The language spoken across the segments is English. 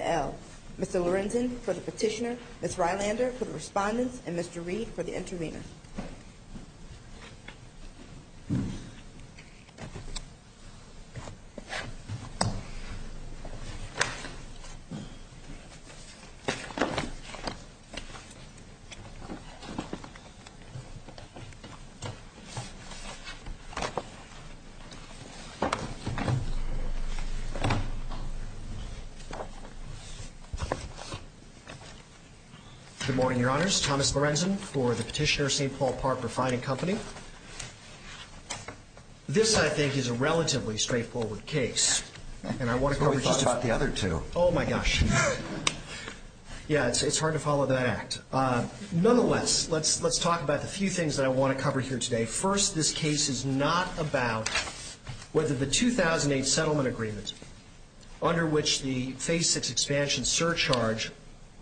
L. Mr. Lorenzen for the Petitioner, Ms. Rylander for the Respondent, and Mr. Reed for the Intervener. Good morning, Your Honors. First, Thomas Lorenzen for the Petitioner, St. Paul Park Refining Company. This, I think, is a relatively straightforward case. And I want to cover just a few. We thought the other two. Oh, my gosh. Yeah, it's hard to follow that act. Nonetheless, let's talk about the few things that I want to cover here today. First, this case is not about whether the 2008 settlement agreement under which the Phase VI expansion surcharge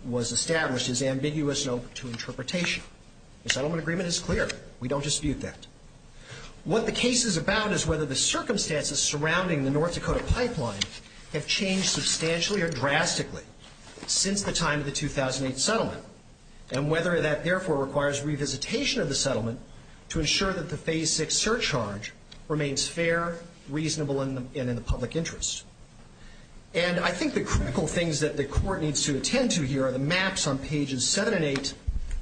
was established is ambiguous and open to interpretation. The settlement agreement is clear. We don't dispute that. What the case is about is whether the circumstances surrounding the North Dakota pipeline have changed substantially or drastically since the time of the 2008 settlement and whether that, therefore, requires revisitation of the settlement to ensure that the Phase VI surcharge remains fair, reasonable, and in the public interest. And I think the critical things that the Court needs to attend to here are the maps on pages 7 and 8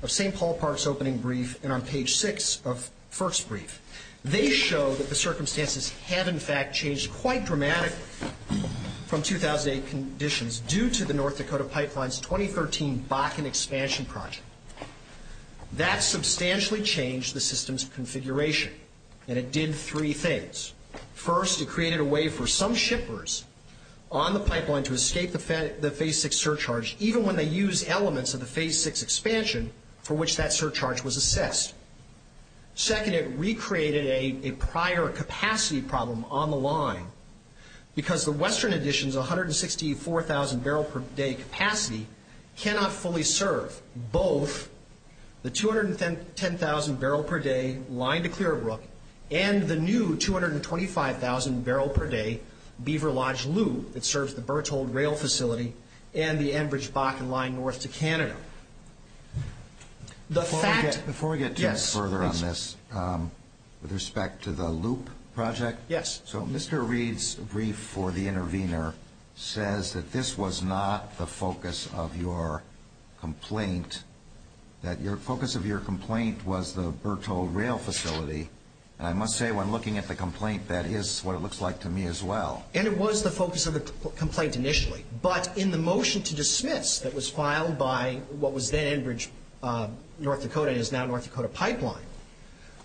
of St. Paul Park's opening brief and on page 6 of FERC's brief. They show that the circumstances have, in fact, changed quite dramatically from 2008 conditions due to the North Dakota pipeline's 2013 Bakken expansion project. That substantially changed the system's configuration, and it did three things. First, it created a way for some shippers on the pipeline to escape the Phase VI surcharge, even when they used elements of the Phase VI expansion for which that surcharge was assessed. Second, it recreated a prior capacity problem on the line because the Western Edition's 164,000 barrel per day capacity cannot fully serve both the 210,000 barrel per day line to Clearbrook and the new 225,000 barrel per day beaver lodge loop that serves the Berthold rail facility and the Enbridge-Bakken line north to Canada. The fact... Before we get further on this, with respect to the loop project... Yes. So Mr. Reed's brief for the intervener says that this was not the focus of your complaint, that the focus of your complaint was the Berthold rail facility. And I must say, when looking at the complaint, that is what it looks like to me as well. And it was the focus of the complaint initially, but in the motion to dismiss that was filed by what was then Enbridge-North Dakota and is now North Dakota Pipeline,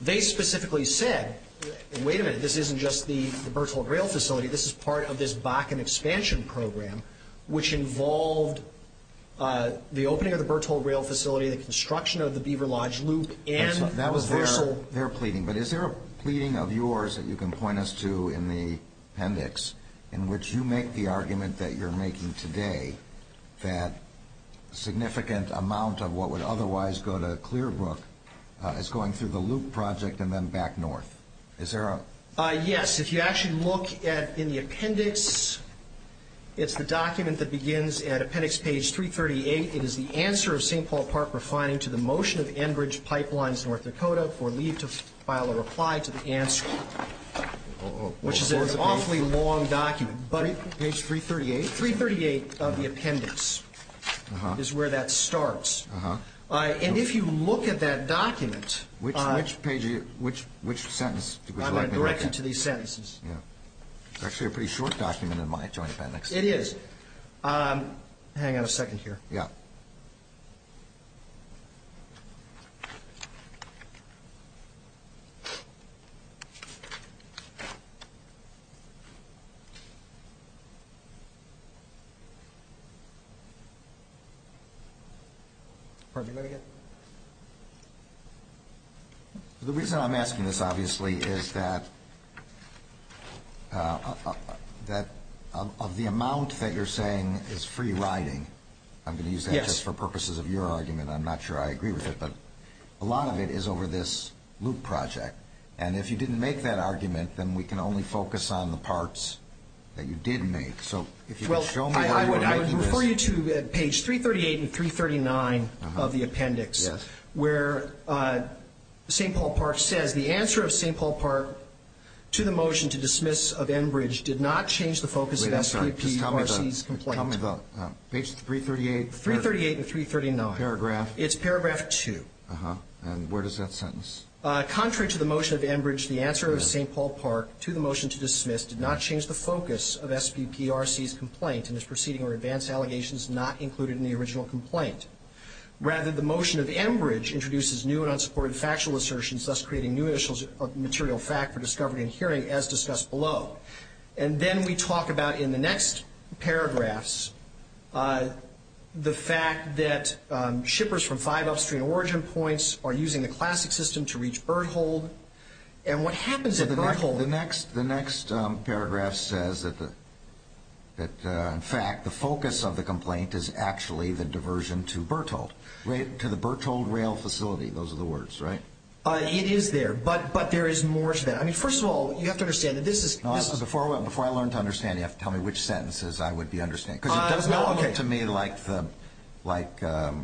they specifically said, wait a minute, this isn't just the Berthold rail facility, this is part of this Bakken expansion program, which involved the opening of the Berthold rail facility, the construction of the beaver lodge loop, and... They're pleading. But is there a pleading of yours that you can point us to in the appendix in which you make the argument that you're making today that a significant amount of what would otherwise go to Clearbrook is going through the loop project and then back north? Is there a... Yes. If you actually look in the appendix, it's the document that begins at appendix page 338. It is the answer of St. Paul Park refining to the motion of Enbridge Pipelines-North Dakota for leave to file a reply to the answer, which is an awfully long document. Page 338? Page 338 of the appendix is where that starts. And if you look at that document... Which page, which sentence? I'm going to direct you to these sentences. It's actually a pretty short document in my joint appendix. It is. Hang on a second here. Yeah. Pardon me. Go ahead again. The reason I'm asking this, obviously, is that of the amount that you're saying is free riding, I'm going to use that just for purposes of your argument. I'm not sure I agree with it, but a lot of it is over this loop project. And if you didn't make that argument, then we can only focus on the parts that you did make. So if you could show me how you were making this... Well, I would refer you to page 338 and 339 of the appendix... Yes. ...where St. Paul Park says, Wait, I'm sorry. Just tell me the... ...SBPRC's complaint. Tell me the... Page 338? 338 and 339. Paragraph? It's paragraph 2. Uh-huh. And where does that sentence... Contrary to the motion of Enbridge, the answer of St. Paul Park to the motion to dismiss did not change the focus of SBPRC's complaint and its proceeding or advanced allegations not included in the original complaint. And then we talk about in the next paragraphs the fact that shippers from five upstream origin points are using the classic system to reach Berthold. And what happens at Berthold... The next paragraph says that, in fact, the focus of the complaint is actually the diversion to Berthold, to the Berthold Rail Facility. Those are the words, right? It is there. But there is more to that. I mean, first of all, you have to understand that this is... No, this is... Before I learn to understand, you have to tell me which sentences I would be understanding. Because it does not look to me like the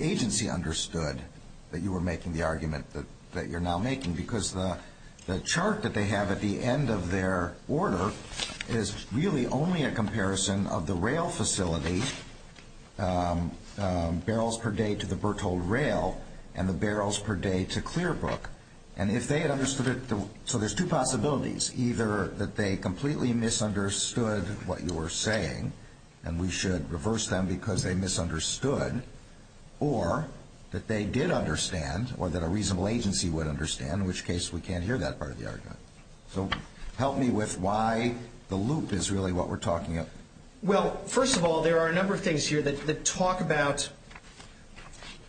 agency understood that you were making the argument that you're now making, because the chart that they have at the end of their order is really only a comparison of the rail facility, barrels per day to the Berthold Rail and the barrels per day to Clearbrook. And if they had understood it... So there's two possibilities, either that they completely misunderstood what you were saying and we should reverse them because they misunderstood, or that they did understand or that a reasonable agency would understand, in which case we can't hear that part of the argument. So help me with why the loop is really what we're talking about. Well, first of all, there are a number of things here that talk about...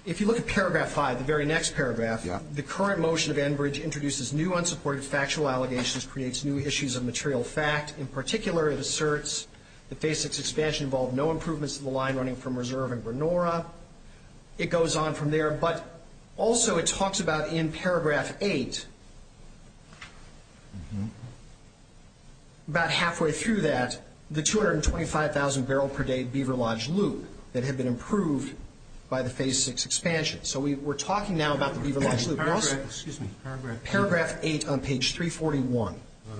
If you look at paragraph 5, the very next paragraph, the current motion of Enbridge introduces new unsupported factual allegations, creates new issues of material fact. In particular, it asserts that Phase VI expansion involved no improvements to the line running from Reserve and Granora. It goes on from there. But also it talks about in paragraph 8, about halfway through that, the 225,000 barrel per day beaver lodge loop that had been improved by the Phase VI expansion. So we're talking now about the beaver lodge loop. Paragraph 8 on page 341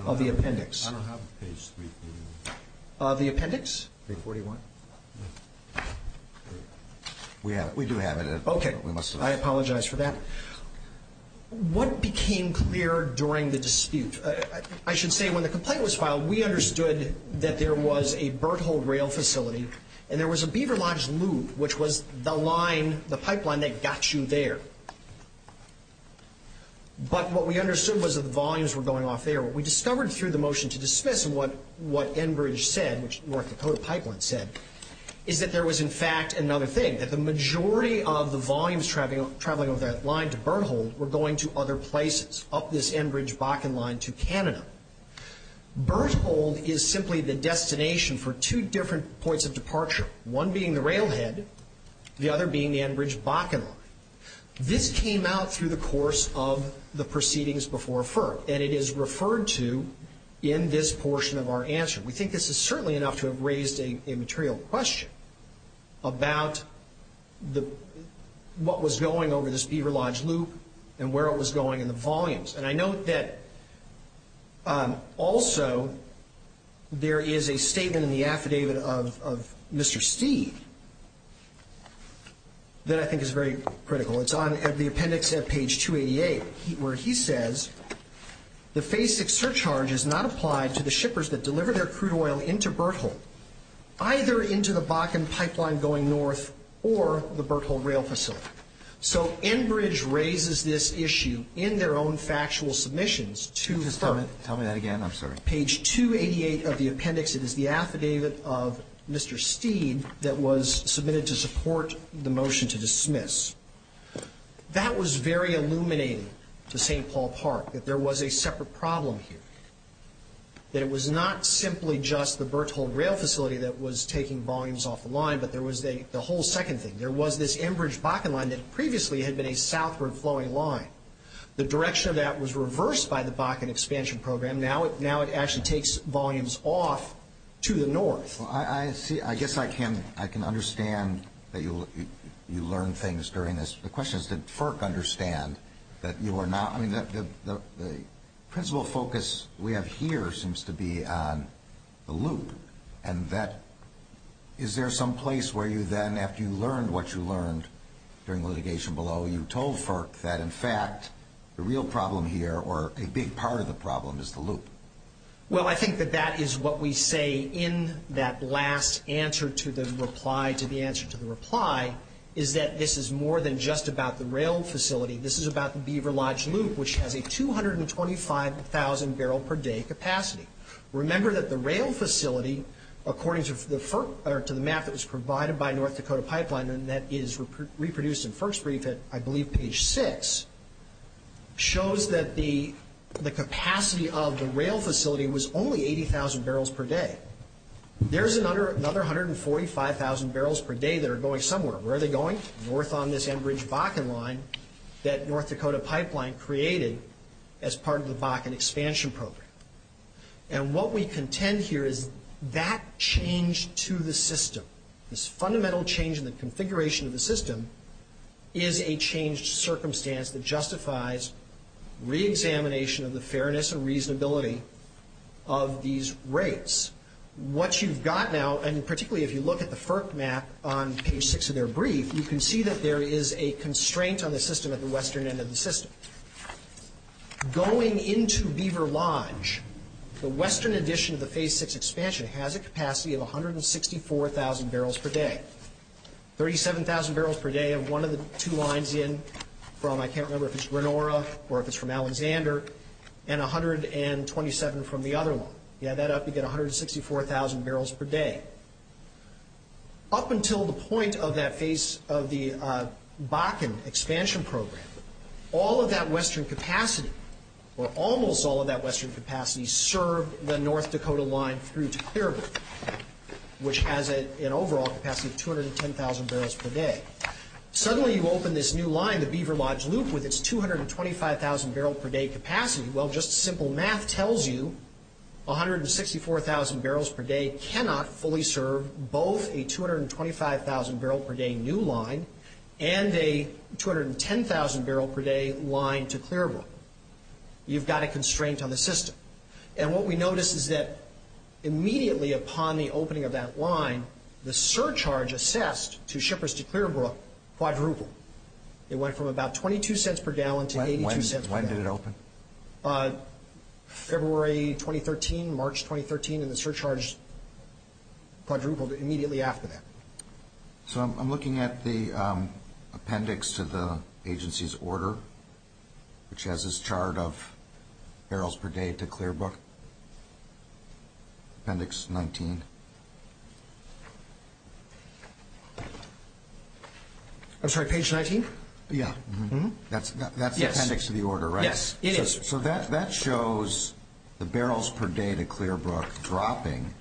of the appendix. I don't have page 341. Of the appendix? 341. We do have it. Okay. I apologize for that. What became clear during the dispute? I should say when the complaint was filed, we understood that there was a Berthold rail facility and there was a beaver lodge loop, which was the line, the pipeline that got you there. But what we understood was that the volumes were going off there. What we discovered through the motion to dismiss and what Enbridge said, which North Dakota Pipeline said, is that there was, in fact, another thing, that the majority of the volumes traveling over that line to Berthold were going to other places, up this Enbridge-Bakken line to Canada. Berthold is simply the destination for two different points of departure, one being the railhead, the other being the Enbridge-Bakken line. This came out through the course of the proceedings before FERC, and it is referred to in this portion of our answer. We think this is certainly enough to have raised a material question about what was going over this beaver lodge loop and where it was going in the volumes. And I note that also there is a statement in the affidavit of Mr. Steed that I think is very critical. It's on the appendix at page 288 where he says, The phasic surcharge is not applied to the shippers that deliver their crude oil into Berthold, either into the Bakken pipeline going north or the Berthold rail facility. So Enbridge raises this issue in their own factual submissions to FERC. Just tell me that again. I'm sorry. Page 288 of the appendix, it is the affidavit of Mr. Steed that was submitted to support the motion to dismiss. That was very illuminating to St. Paul Park, that there was a separate problem here, that it was not simply just the Berthold rail facility that was taking volumes off the line, but there was the whole second thing. There was this Enbridge-Bakken line that previously had been a southward flowing line. The direction of that was reversed by the Bakken expansion program. Now it actually takes volumes off to the north. I guess I can understand that you learned things during this. The question is, did FERC understand that you were not, I mean, the principal focus we have here seems to be on the loop. And that, is there some place where you then, after you learned what you learned during litigation below, you told FERC that, in fact, the real problem here, or a big part of the problem, is the loop? Well, I think that that is what we say in that last answer to the reply, to the answer to the reply, is that this is more than just about the rail facility. This is about the Beaver Lodge loop, which has a 225,000 barrel per day capacity. Remember that the rail facility, according to the map that was provided by North Dakota Pipeline, and that is reproduced in FERC's brief at, I believe, page 6, shows that the capacity of the rail facility was only 80,000 barrels per day. There's another 145,000 barrels per day that are going somewhere. Where are they going? North on this Enbridge-Bakken line that North Dakota Pipeline created as part of the Bakken expansion program. And what we contend here is that change to the system, this fundamental change in the configuration of the system, is a changed circumstance that justifies reexamination of the fairness and reasonability of these rates. What you've got now, and particularly if you look at the FERC map on page 6 of their brief, you can see that there is a constraint on the system at the western end of the system. Going into Beaver Lodge, the western edition of the phase 6 expansion has a capacity of 164,000 barrels per day. 37,000 barrels per day of one of the two lines in from, I can't remember if it's Renora or if it's from Alexander, and 127 from the other one. You add that up, you get 164,000 barrels per day. Up until the point of that phase of the Bakken expansion program, all of that western capacity, or almost all of that western capacity, served the North Dakota line through to Clearbrook, which has an overall capacity of 210,000 barrels per day. Suddenly you open this new line, the Beaver Lodge Loop, with its 225,000 barrel per day capacity. Well, just simple math tells you 164,000 barrels per day cannot fully serve both a 225,000 barrel per day new line and a 210,000 barrel per day line to Clearbrook. You've got a constraint on the system. And what we notice is that immediately upon the opening of that line, the surcharge assessed to shippers to Clearbrook quadrupled. It went from about $0.22 per gallon to $0.82 per gallon. When did it open? February 2013, March 2013, and the surcharge quadrupled immediately after that. So I'm looking at the appendix to the agency's order, which has this chart of barrels per day to Clearbrook, appendix 19. I'm sorry, page 19? Yeah. That's the appendix to the order, right? Yes, it is. So that shows the barrels per day to Clearbrook dropping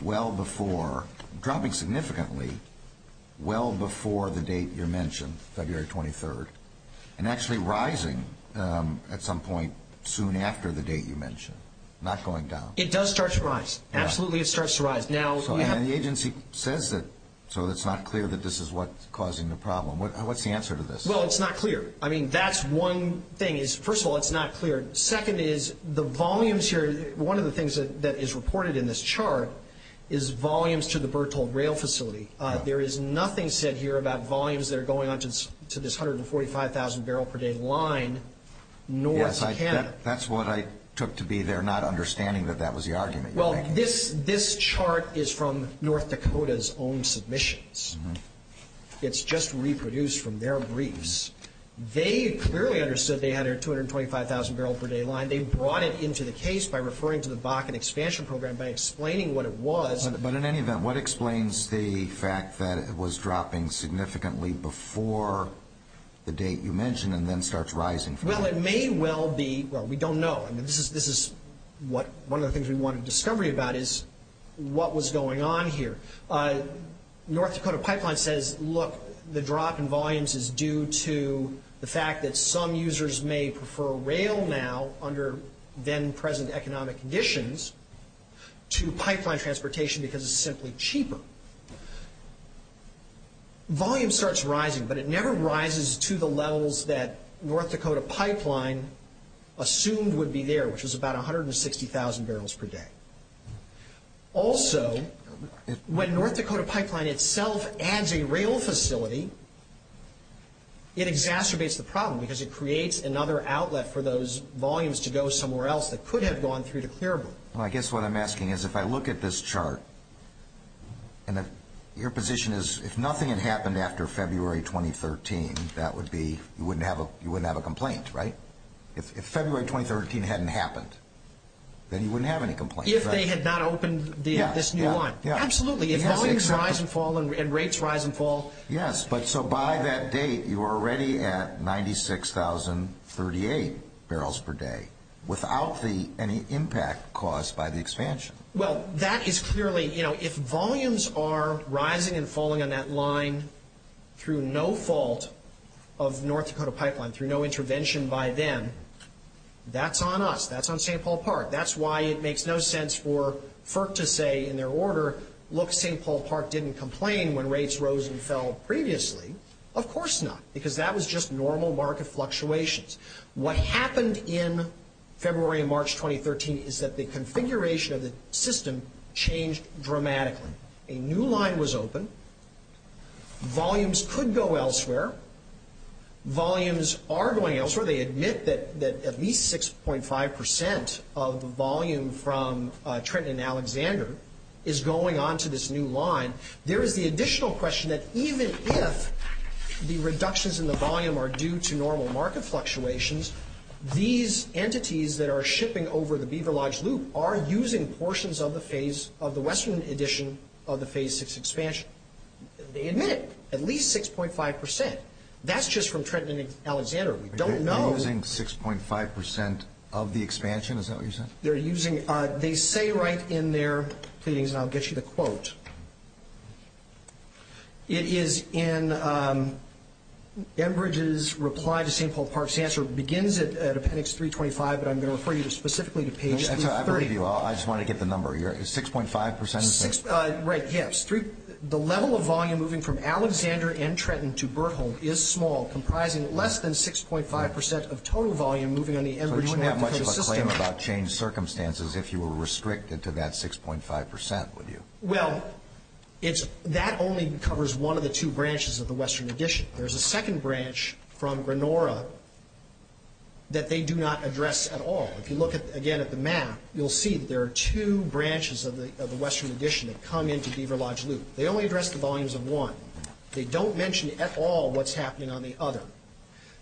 well before, dropping significantly well before the date you mentioned, February 23rd, and actually rising at some point soon after the date you mentioned, not going down. It does start to rise. Absolutely it starts to rise. And the agency says that, so it's not clear that this is what's causing the problem. What's the answer to this? Well, it's not clear. I mean, that's one thing. First of all, it's not clear. Second is the volumes here, one of the things that is reported in this chart, is volumes to the Bertolt Rail Facility. There is nothing said here about volumes that are going on to this 145,000 barrel per day line, nor is it Canada. That's what I took to be there, not understanding that that was the argument you're making. Well, this chart is from North Dakota's own submissions. It's just reproduced from their briefs. They clearly understood they had a 225,000 barrel per day line. They brought it into the case by referring to the Bakken expansion program, by explaining what it was. But in any event, what explains the fact that it was dropping significantly before the date you mentioned and then starts rising? Well, it may well be. Well, we don't know. I mean, this is one of the things we wanted discovery about is what was going on here. North Dakota Pipeline says, look, the drop in volumes is due to the fact that some users may prefer rail now under then-present economic conditions to pipeline transportation because it's simply cheaper. Volume starts rising, but it never rises to the levels that North Dakota Pipeline assumed would be there, which was about 160,000 barrels per day. Also, when North Dakota Pipeline itself adds a rail facility, it exacerbates the problem because it creates another outlet for those volumes to go somewhere else that could have gone through to Clearbrook. Well, I guess what I'm asking is if I look at this chart, and your position is if nothing had happened after February 2013, that would be you wouldn't have a complaint, right? If February 2013 hadn't happened, then you wouldn't have any complaints. If they had not opened this new line. Absolutely. If volumes rise and fall and rates rise and fall. Yes. But so by that date, you were already at 96,038 barrels per day without any impact caused by the expansion. Well, that is clearly, you know, if volumes are rising and falling on that line through no fault of North Dakota Pipeline, through no intervention by them, that's on us. That's on St. Paul Park. That's why it makes no sense for FERC to say in their order, look, St. Paul Park didn't complain when rates rose and fell previously. Of course not. Because that was just normal market fluctuations. What happened in February and March 2013 is that the configuration of the system changed dramatically. A new line was open. Volumes could go elsewhere. Volumes are going elsewhere. They admit that at least 6.5% of the volume from Trenton and Alexander is going on to this new line. There is the additional question that even if the reductions in the volume are due to normal market fluctuations, these entities that are shipping over the Beaver Lodge Loop are using portions of the phase, of the Western edition of the Phase 6 expansion. They admit it. At least 6.5%. That's just from Trenton and Alexander. We don't know. They're using 6.5% of the expansion? Is that what you're saying? They say right in their pleadings, and I'll get you the quote. It is in Enbridge's reply to St. Paul Park's answer. It begins at appendix 325, but I'm going to refer you specifically to page 330. I believe you. I just wanted to get the number. Is 6.5%? Right, yes. The level of volume moving from Alexander and Trenton to Berthold is small, comprising less than 6.5% of total volume moving on the Enbridge and Aptico system. So you wouldn't have much of a claim about changed circumstances if you were restricted to that 6.5%, would you? Well, that only covers one of the two branches of the Western edition. There's a second branch from Granora that they do not address at all. If you look again at the map, you'll see that there are two branches of the Western edition that come into Beaver Lodge Loop. They only address the volumes of one. They don't mention at all what's happening on the other.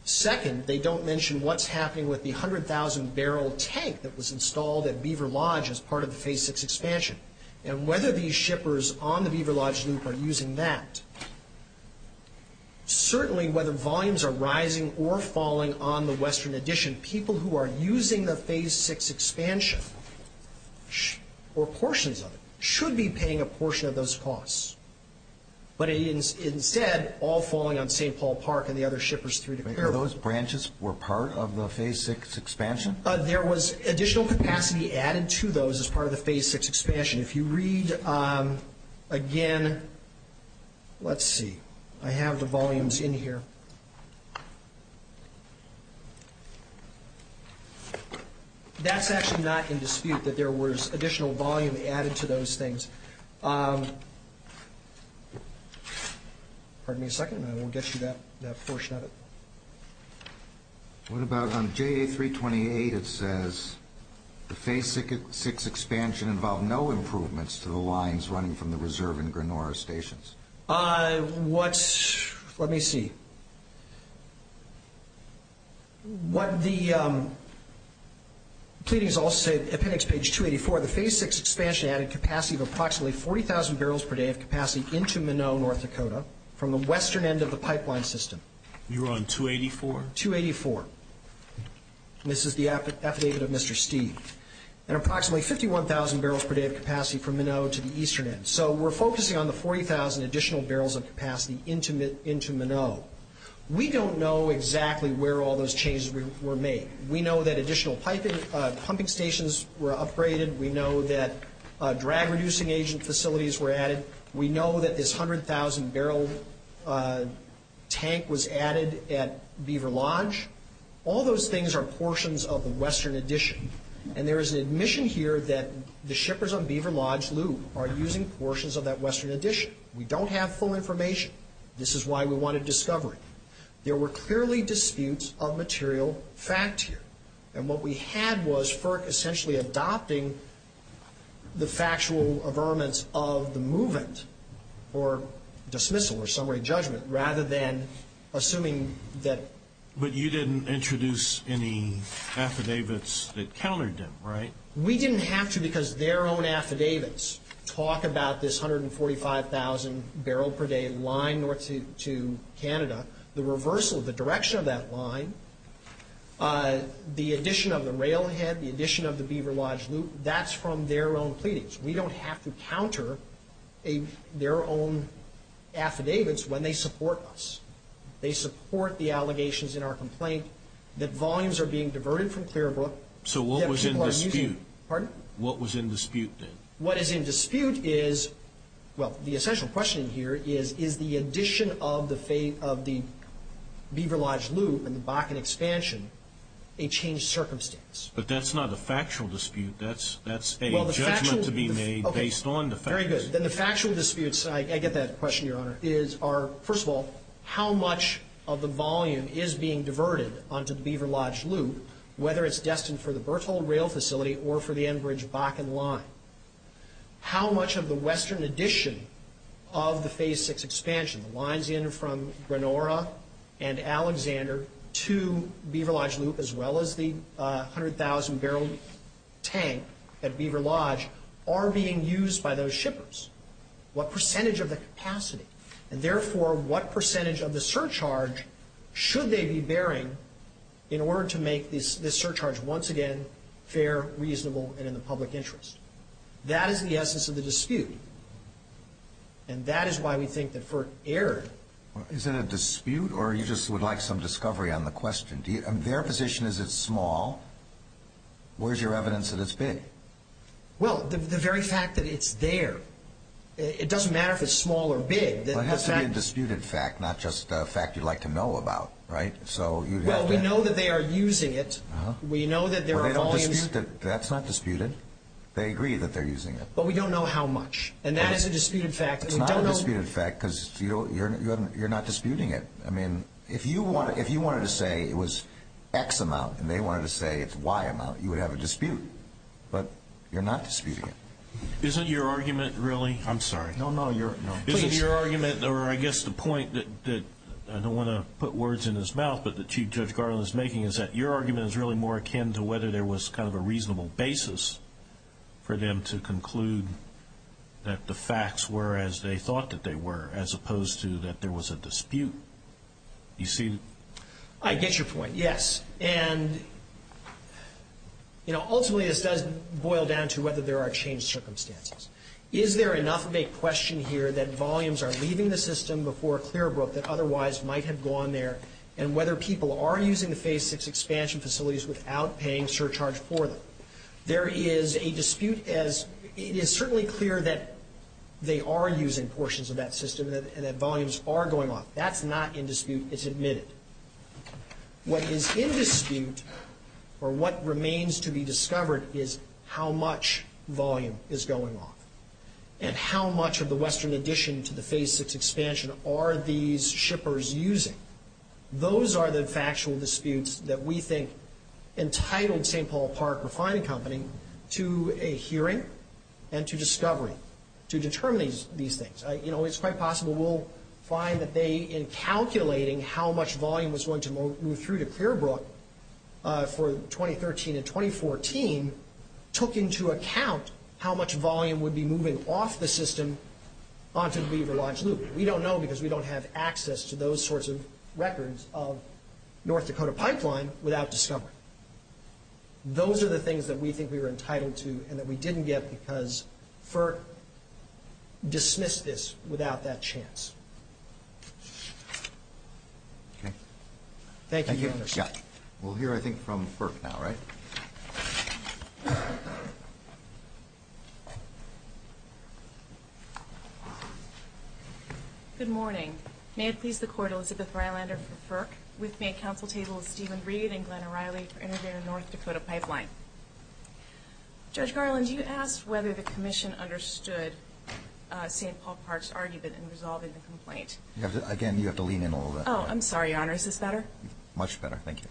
Second, they don't mention what's happening with the 100,000-barrel tank that was installed at Beaver Lodge as part of the Phase VI expansion. And whether these shippers on the Beaver Lodge Loop are using that, certainly whether volumes are rising or falling on the Western edition, people who are using the Phase VI expansion or portions of it should be paying a portion of those costs. But instead, all falling on St. Paul Park and the other shippers through to Clarewood. Are those branches were part of the Phase VI expansion? There was additional capacity added to those as part of the Phase VI expansion. If you read again, let's see. I have the volumes in here. That's actually not in dispute that there was additional volume added to those things. Pardon me a second, and I will get you that portion of it. What about on JA-328, it says, the Phase VI expansion involved no improvements to the lines running from the reserve and Granora stations. Let me see. What the pleadings also say, appendix page 284, the Phase VI expansion added capacity of approximately 40,000 barrels per day of capacity into Minnow, North Dakota, from the western end of the pipeline system. You're on 284? 284. This is the affidavit of Mr. Steeve. And approximately 51,000 barrels per day of capacity from Minnow to the eastern end. So we're focusing on the 40,000 additional barrels of capacity into Minnow. We don't know exactly where all those changes were made. We know that additional pumping stations were upgraded. We know that drag-reducing agent facilities were added. We know that this 100,000-barrel tank was added at Beaver Lodge. All those things are portions of the western addition. And there is an admission here that the shippers on Beaver Lodge Loop are using portions of that western addition. We don't have full information. This is why we wanted discovery. There were clearly disputes of material fact here. And what we had was FERC essentially adopting the factual averments of the movement or dismissal or summary judgment rather than assuming that. But you didn't introduce any affidavits that countered them, right? We didn't have to because their own affidavits talk about this 145,000-barrel-per-day line north to Canada, the reversal of the direction of that line, the addition of the railhead, the addition of the Beaver Lodge Loop. That's from their own pleadings. We don't have to counter their own affidavits when they support us. They support the allegations in our complaint that volumes are being diverted from Clearbrook. So what was in dispute? Pardon? What was in dispute then? What is in dispute is, well, the essential question here is, is the addition of the Beaver Lodge Loop and the Bakken expansion a changed circumstance? But that's not a factual dispute. That's a judgment to be made based on the facts. Very good. Then the factual disputes, I get that question, Your Honor, are, first of all, how much of the volume is being diverted onto the Beaver Lodge Loop, whether it's destined for the Berthold Rail Facility or for the Enbridge-Bakken line? How much of the western addition of the Phase 6 expansion, the lines in from Granora and Alexander to Beaver Lodge Loop, as well as the 100,000-barrel tank at Beaver Lodge, are being used by those shippers? What percentage of the capacity, and therefore what percentage of the surcharge, should they be bearing in order to make this surcharge once again fair, reasonable, and in the public interest? That is the essence of the dispute. And that is why we think that for Erd— Is it a dispute, or you just would like some discovery on the question? Their position is it's small. Where's your evidence that it's big? Well, the very fact that it's there. It doesn't matter if it's small or big. It has to be a disputed fact, not just a fact you'd like to know about, right? Well, we know that they are using it. We know that there are volumes— That's not disputed. They agree that they're using it. But we don't know how much. And that is a disputed fact. It's not a disputed fact because you're not disputing it. I mean, if you wanted to say it was X amount and they wanted to say it's Y amount, you would have a dispute. But you're not disputing it. Isn't your argument really— I'm sorry. No, no. Isn't your argument, or I guess the point that— I don't want to put words in his mouth, but that Chief Judge Garland is making, is that your argument is really more akin to whether there was kind of a reasonable basis for them to conclude that the facts were as they thought that they were, as opposed to that there was a dispute. You see— I get your point, yes. And, you know, ultimately this does boil down to whether there are changed circumstances. Is there enough of a question here that volumes are leaving the system before a clear broke that otherwise might have gone there, and whether people are using the Phase VI expansion facilities without paying surcharge for them? There is a dispute as it is certainly clear that they are using portions of that system and that volumes are going up. That's not in dispute. It's admitted. What is in dispute or what remains to be discovered is how much volume is going off and how much of the Western addition to the Phase VI expansion are these shippers using. Those are the factual disputes that we think entitled St. Paul Park Refining Company to a hearing and to discovery to determine these things. You know, it's quite possible we'll find that they, in calculating how much volume was going to move through to Clearbrook for 2013 and 2014, took into account how much volume would be moving off the system onto the Weaver Lodge Loop. We don't know because we don't have access to those sorts of records of North Dakota Pipeline without discovery. Those are the things that we think we were entitled to and that we didn't get because FERC dismissed this without that chance. Okay. Thank you, Mr. Judge. Thank you. We'll hear, I think, from FERC now, right? Good morning. May it please the Court, Elizabeth Rylander for FERC. With me at counsel table is Stephen Reed and Glenn O'Reilly for interviewing the North Dakota Pipeline. Judge Garland, do you ask whether the Commission understood St. Paul Park's argument in resolving the complaint? Again, you have to lean in a little bit. Oh, I'm sorry, Your Honor. Is this better? Much better. Thank you.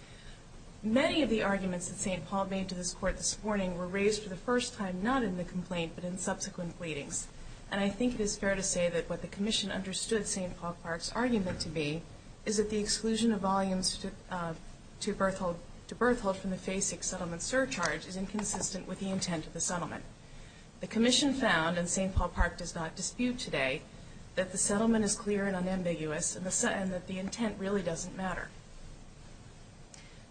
Many of the arguments that St. Paul made to this Court this morning were raised for the first time not in the complaint but in subsequent pleadings. And I think it is fair to say that what the Commission understood St. Paul Park's argument to be is that the exclusion of volumes to Berthold from the FASIC settlement surcharge is inconsistent with the intent of the settlement. The Commission found, and St. Paul Park does not dispute today, that the settlement is clear and unambiguous and that the intent really doesn't matter.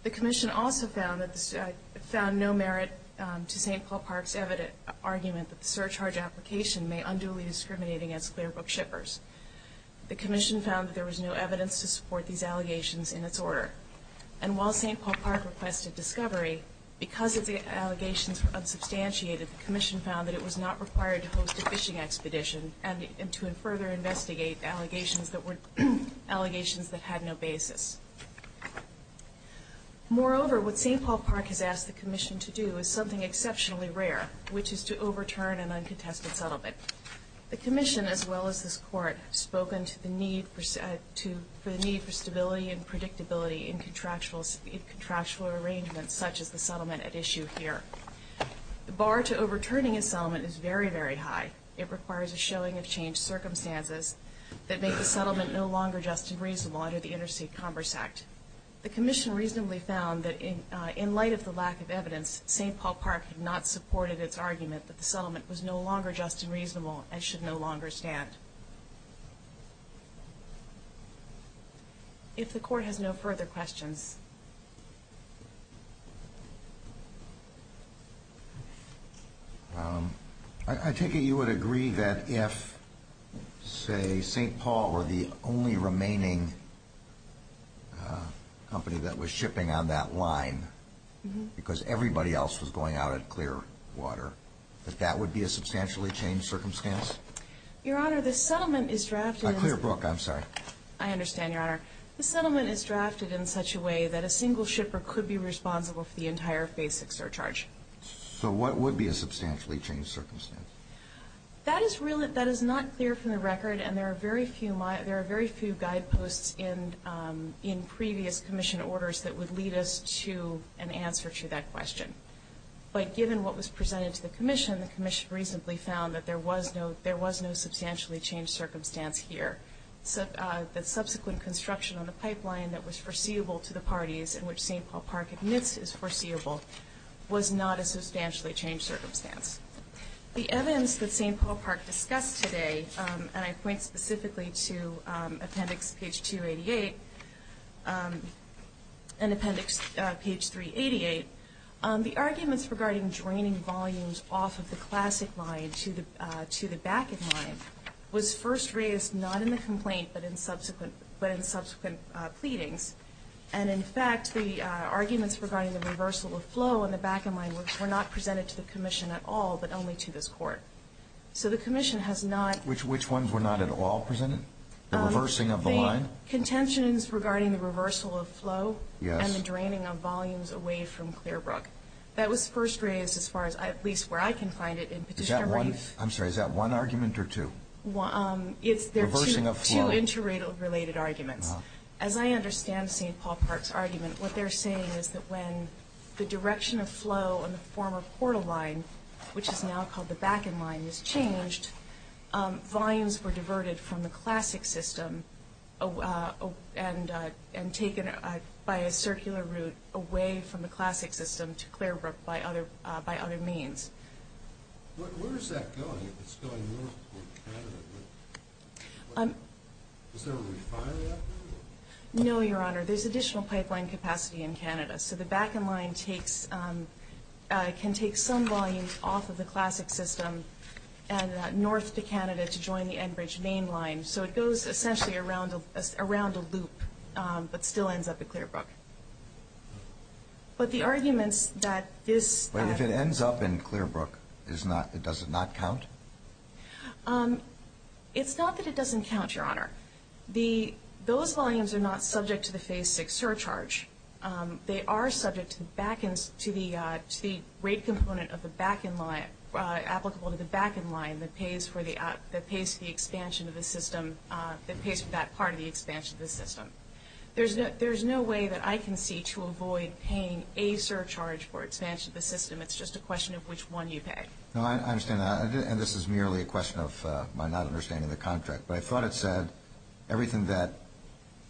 The Commission also found no merit to St. Paul Park's argument that the surcharge application may unduly discriminate against clear book shippers. The Commission found that there was no evidence to support these allegations in its order. And while St. Paul Park requested discovery, because its allegations were unsubstantiated, the Commission found that it was not required to host a fishing expedition and to further investigate allegations that had no basis. Moreover, what St. Paul Park has asked the Commission to do is something exceptionally rare, which is to overturn an uncontested settlement. The Commission, as well as this Court, have spoken for the need for stability and predictability in contractual arrangements such as the settlement at issue here. The bar to overturning a settlement is very, very high. It requires a showing of changed circumstances that make the settlement no longer just and reasonable under the Interstate Commerce Act. The Commission reasonably found that in light of the lack of evidence, St. Paul Park had not supported its argument that the settlement was no longer just and reasonable and should no longer stand. If the Court has no further questions. I take it you would agree that if, say, St. Paul were the only remaining company that was shipping on that line because everybody else was going out at clear water, that that would be a substantially changed circumstance? Your Honor, the settlement is drafted in such a way that a single shipper could be responsible for the entire basic surcharge. So what would be a substantially changed circumstance? That is not clear from the record, and there are very few guideposts in previous Commission orders that would lead us to an answer to that question. But given what was presented to the Commission, the Commission reasonably found that there was no substantially changed circumstance here. The subsequent construction on the pipeline that was foreseeable to the parties in which St. Paul Park admits is foreseeable was not a substantially changed circumstance. The evidence that St. Paul Park discussed today, and I point specifically to appendix page 288 and appendix page 388, the arguments regarding draining volumes off of the classic line to the back end line was first raised not in the complaint but in subsequent pleadings. And, in fact, the arguments regarding the reversal of flow on the back end line were not presented to the Commission at all but only to this Court. So the Commission has not. Which ones were not at all presented? The reversing of the line? The contentions regarding the reversal of flow and the draining of volumes away from Clearbrook. That was first raised as far as at least where I can find it in petitioner brief. I'm sorry. Is that one argument or two? It's two interrelated arguments. As I understand St. Paul Park's argument, what they're saying is that when the direction of flow on the former portal line, which is now called the back end line, was changed, volumes were diverted from the classic system and taken by a circular route away from the classic system to Clearbrook by other means. Where is that going? It's going north toward Canada. Is there a refinery out there? No, Your Honor. There's additional pipeline capacity in Canada, so the back end line can take some volumes off of the classic system and north to Canada to join the Enbridge main line. So it goes essentially around a loop but still ends up at Clearbrook. But the arguments that this— But if it ends up in Clearbrook, does it not count? It's not that it doesn't count, Your Honor. Those volumes are not subject to the Phase VI surcharge. They are subject to the rate component of the back end line, applicable to the back end line that pays for the expansion of the system, that pays for that part of the expansion of the system. There's no way that I can see to avoid paying a surcharge for expansion of the system. It's just a question of which one you pay. No, I understand that. And this is merely a question of my not understanding the contract. But I thought it said everything that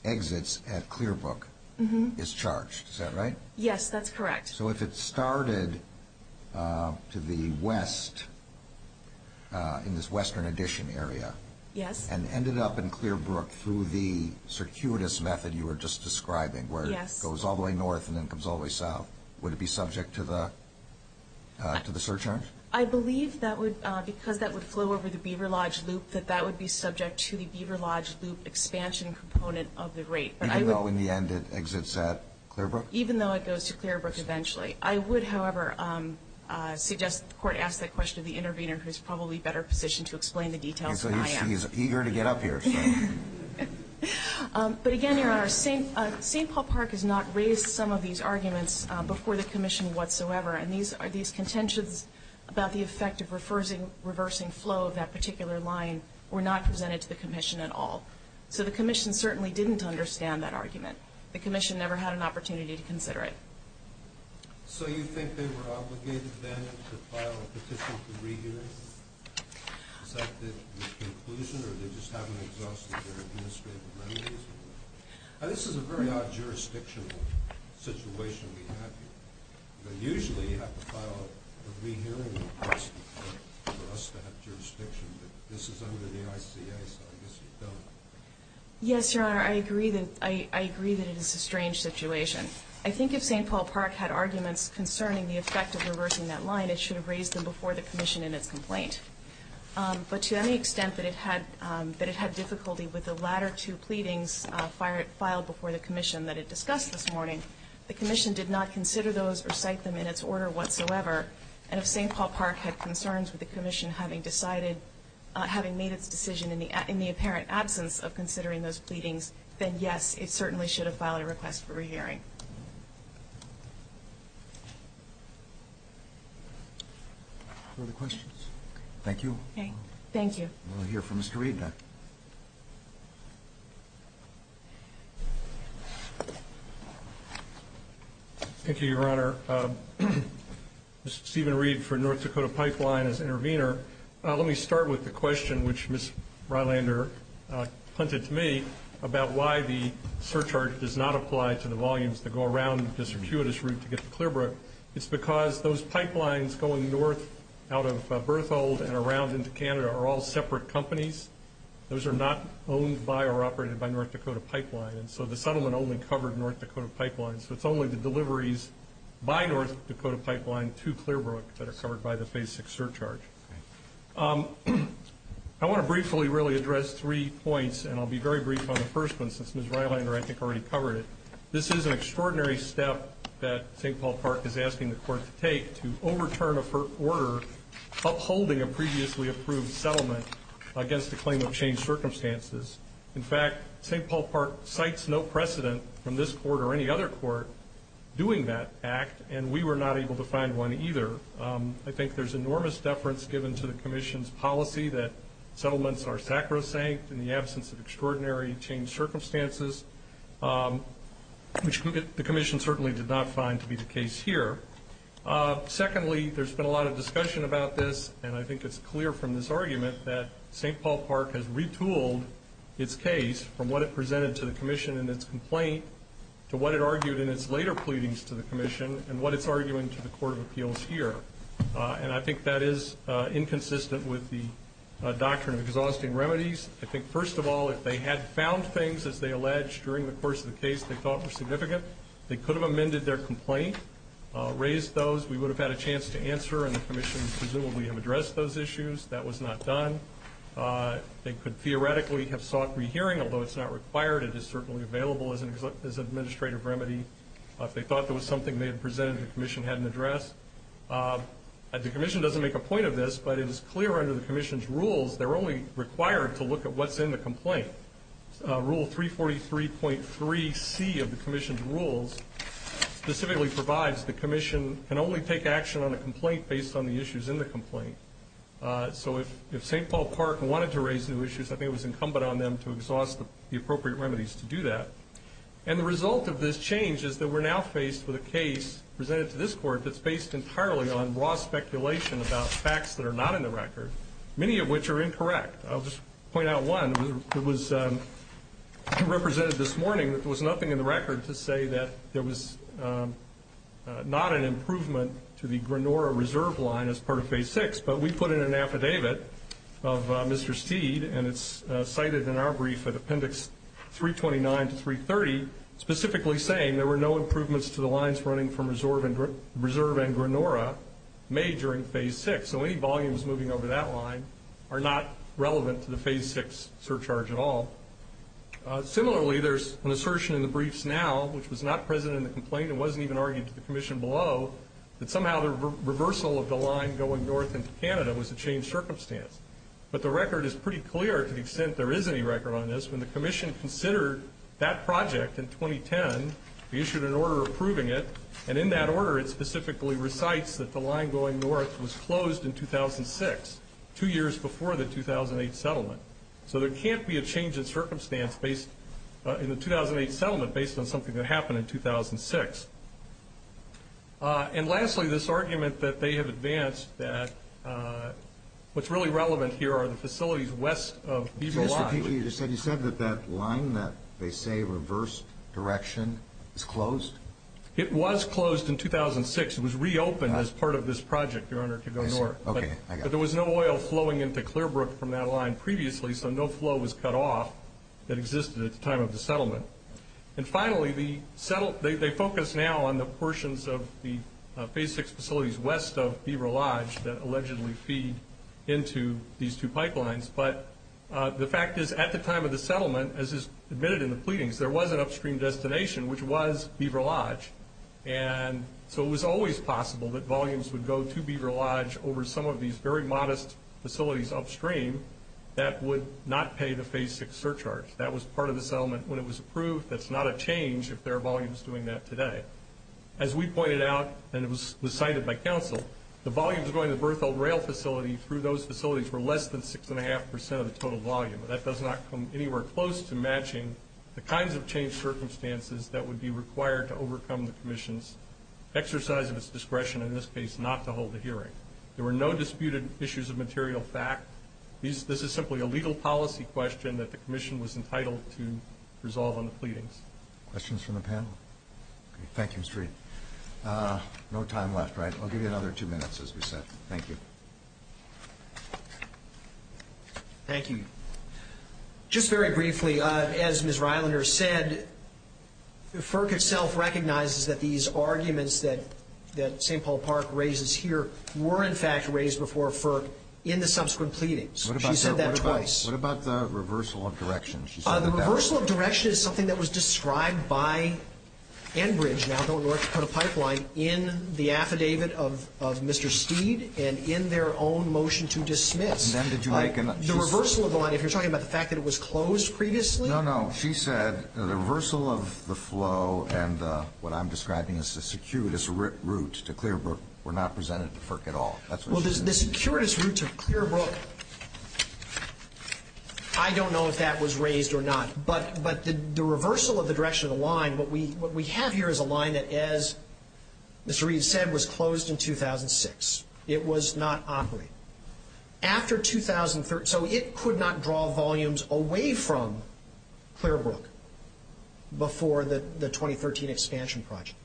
exits at Clearbrook is charged. Is that right? Yes, that's correct. So if it started to the west in this western addition area and ended up in Clearbrook through the circuitous method you were just describing, where it goes all the way north and then comes all the way south, would it be subject to the surcharge? I believe that would, because that would flow over the Beaver Lodge Loop, that that would be subject to the Beaver Lodge Loop expansion component of the rate. Even though in the end it exits at Clearbrook? Even though it goes to Clearbrook eventually. I would, however, suggest the Court ask that question to the intervener, who is probably better positioned to explain the details than I am. He's eager to get up here. But again, Your Honor, St. Paul Park has not raised some of these arguments before the Commission whatsoever. And these contentions about the effect of reversing flow of that particular line were not presented to the Commission at all. So the Commission certainly didn't understand that argument. The Commission never had an opportunity to consider it. So you think they were obligated then to file a petition to re-hear it? Is that the conclusion, or they just haven't exhausted their administrative remedies? This is a very odd jurisdictional situation we have here. Usually you have to file a re-hearing request for us to have jurisdiction, but this is under the ICA, so I guess you don't. Yes, Your Honor, I agree that it is a strange situation. I think if St. Paul Park had arguments concerning the effect of reversing that line, it should have raised them before the Commission in its complaint. But to any extent that it had difficulty with the latter two pleadings filed before the Commission that it discussed this morning, the Commission did not consider those or cite them in its order whatsoever. And if St. Paul Park had concerns with the Commission having made its decision in the apparent absence of considering those pleadings, then yes, it certainly should have filed a request for re-hearing. Further questions? Thank you. Thank you. We'll hear from Mr. Reed now. Thank you, Your Honor. Mr. Stephen Reed for North Dakota Pipeline as intervener. Let me start with the question which Ms. Rylander punted to me about why the surcharge does not apply to the volumes that go around this circuitous route to get to Clearbrook. It's because those pipelines going north out of Berthold and around into Canada are all separate companies. Those are not owned by or operated by North Dakota Pipeline, and so the settlement only covered North Dakota Pipeline. So it's only the deliveries by North Dakota Pipeline to Clearbrook that are covered by the Phase VI surcharge. I want to briefly really address three points, and I'll be very brief on the first one since Ms. Rylander I think already covered it. This is an extraordinary step that St. Paul Park is asking the court to take to overturn a court order upholding a previously approved settlement against the claim of changed circumstances. In fact, St. Paul Park cites no precedent from this court or any other court doing that act, and we were not able to find one either. I think there's enormous deference given to the commission's policy that settlements are sacrosanct in the absence of extraordinary changed circumstances, which the commission certainly did not find to be the case here. Secondly, there's been a lot of discussion about this, and I think it's clear from this argument that St. Paul Park has retooled its case from what it presented to the commission in its complaint to what it argued in its later pleadings to the commission and what it's arguing to the court of appeals here. And I think that is inconsistent with the doctrine of exhausting remedies. I think, first of all, if they had found things, as they allege, during the course of the case they thought were significant, they could have amended their complaint, raised those. We would have had a chance to answer, and the commission presumably have addressed those issues. That was not done. They could theoretically have sought rehearing, although it's not required. It is certainly available as an administrative remedy. If they thought there was something they had presented, the commission had an address. The commission doesn't make a point of this, but it is clear under the commission's rules they're only required to look at what's in the complaint. Rule 343.3C of the commission's rules specifically provides the commission can only take action on a complaint based on the issues in the complaint. So if St. Paul Park wanted to raise new issues, I think it was incumbent on them to exhaust the appropriate remedies to do that. The result of this change is that we're now faced with a case presented to this court that's based entirely on raw speculation about facts that are not in the record, many of which are incorrect. I'll just point out one that was represented this morning. There was nothing in the record to say that there was not an improvement to the Granora Reserve line as part of Phase 6, but we put in an affidavit of Mr. Steed, and it's cited in our brief at Appendix 329 to 330, specifically saying there were no improvements to the lines running from Reserve and Granora made during Phase 6. So any volumes moving over that line are not relevant to the Phase 6 surcharge at all. Similarly, there's an assertion in the briefs now, which was not present in the complaint and wasn't even argued to the commission below, that somehow the reversal of the line going north into Canada was a changed circumstance. But the record is pretty clear to the extent there is any record on this. When the commission considered that project in 2010, we issued an order approving it, and in that order it specifically recites that the line going north was closed in 2006, two years before the 2008 settlement. So there can't be a change in circumstance in the 2008 settlement based on something that happened in 2006. And lastly, this argument that they have advanced that what's really relevant here are the facilities west of Beaver Line. You said that that line that they say reversed direction is closed? It was closed in 2006. It was reopened as part of this project, Your Honor, to go north. But there was no oil flowing into Clearbrook from that line previously, so no flow was cut off that existed at the time of the settlement. And finally, they focus now on the portions of the Phase 6 facilities west of Beaver Lodge that allegedly feed into these two pipelines. But the fact is, at the time of the settlement, as is admitted in the pleadings, there was an upstream destination, which was Beaver Lodge. And so it was always possible that volumes would go to Beaver Lodge over some of these very modest facilities upstream that would not pay the Phase 6 surcharge. That was part of the settlement when it was approved. That's not a change if there are volumes doing that today. As we pointed out, and it was cited by counsel, the volumes going to the Berthold Rail Facility through those facilities were less than 6.5 percent of the total volume. That does not come anywhere close to matching the kinds of change circumstances that would be required to overcome the Commission's exercise of its discretion, in this case, not to hold a hearing. There were no disputed issues of material fact. This is simply a legal policy question that the Commission was entitled to resolve on the pleadings. Questions from the panel? Thank you, Mr. Reed. No time left, right? I'll give you another two minutes, as we said. Thank you. Thank you. Just very briefly, as Ms. Reilander said, FERC itself recognizes that these arguments that St. Paul Park raises here were in fact raised before FERC in the subsequent pleadings. She said that twice. What about the reversal of direction? The reversal of direction is something that was described by Enbridge, now the North Dakota Pipeline, in the affidavit of Mr. Steed and in their own motion to dismiss. And then did you make an update? The reversal of the line, if you're talking about the fact that it was closed previously? No, no. She said the reversal of the flow and what I'm describing as the circuitous route to Clearbrook were not presented to FERC at all. Well, the circuitous route to Clearbrook, I don't know if that was raised or not, but the reversal of the direction of the line, what we have here is a line that, as Mr. Reed said, was closed in 2006. It was not operating. After 2003, so it could not draw volumes away from Clearbrook before the 2013 expansion project,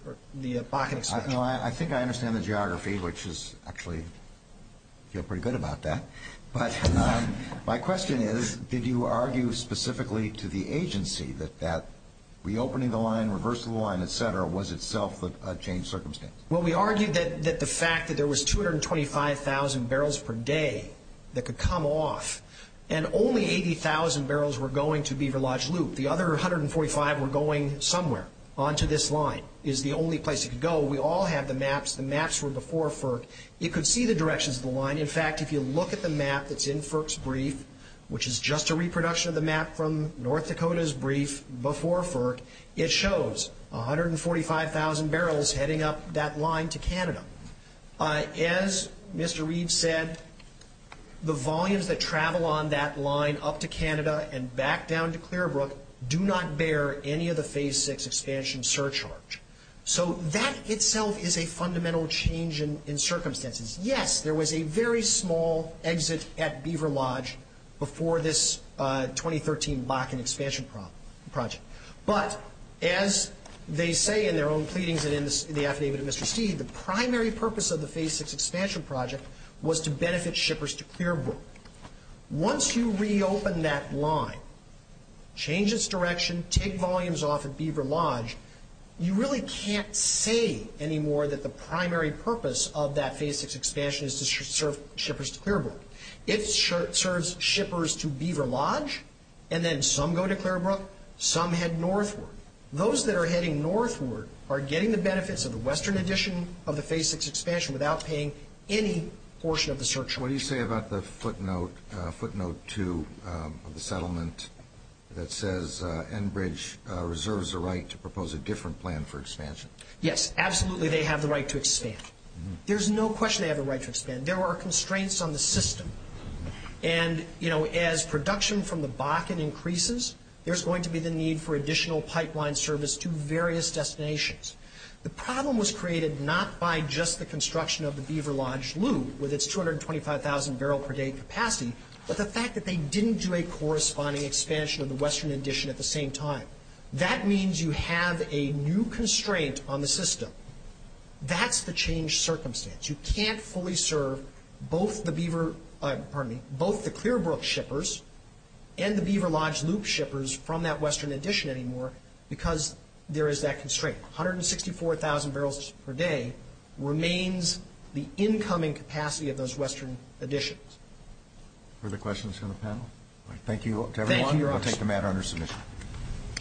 the Bakken expansion project. I think I understand the geography, which is actually, I feel pretty good about that. But my question is, did you argue specifically to the agency that that reopening the line, reversal of the line, et cetera, was itself a changed circumstance? Well, we argued that the fact that there was 225,000 barrels per day that could come off and only 80,000 barrels were going to Beaver Lodge Loop, the other 145 were going somewhere onto this line, is the only place it could go. We all have the maps. The maps were before FERC. You could see the directions of the line. In fact, if you look at the map that's in FERC's brief, which is just a reproduction of the map from North Dakota's brief before FERC, it shows 145,000 barrels heading up that line to Canada. As Mr. Reed said, the volumes that travel on that line up to Canada and back down to Clearbrook do not bear any of the Phase VI expansion surcharge. So that itself is a fundamental change in circumstances. Yes, there was a very small exit at Beaver Lodge before this 2013 Bakken expansion project. But as they say in their own pleadings and in the affidavit of Mr. Steele, the primary purpose of the Phase VI expansion project was to benefit shippers to Clearbrook. Once you reopen that line, change its direction, take volumes off at Beaver Lodge, you really can't say anymore that the primary purpose of that Phase VI expansion is to serve shippers to Clearbrook. It serves shippers to Beaver Lodge, and then some go to Clearbrook, some head northward. Those that are heading northward are getting the benefits of the western addition of the Phase VI expansion without paying any portion of the surcharge. What do you say about the footnote 2 of the settlement that says Enbridge reserves the right to propose a different plan for expansion? Yes, absolutely they have the right to expand. There's no question they have the right to expand. There are constraints on the system. And as production from the Bakken increases, there's going to be the need for additional pipeline service to various destinations. The problem was created not by just the construction of the Beaver Lodge loop with its 225,000 barrel per day capacity, but the fact that they didn't do a corresponding expansion of the western addition at the same time. That means you have a new constraint on the system. That's the changed circumstance. You can't fully serve both the Clearbrook shippers and the Beaver Lodge loop shippers from that western addition anymore because there is that constraint. 164,000 barrels per day remains the incoming capacity of those western additions. Further questions from the panel? Thank you to everyone. Thank you, Your Honor. I'll take the matter under submission.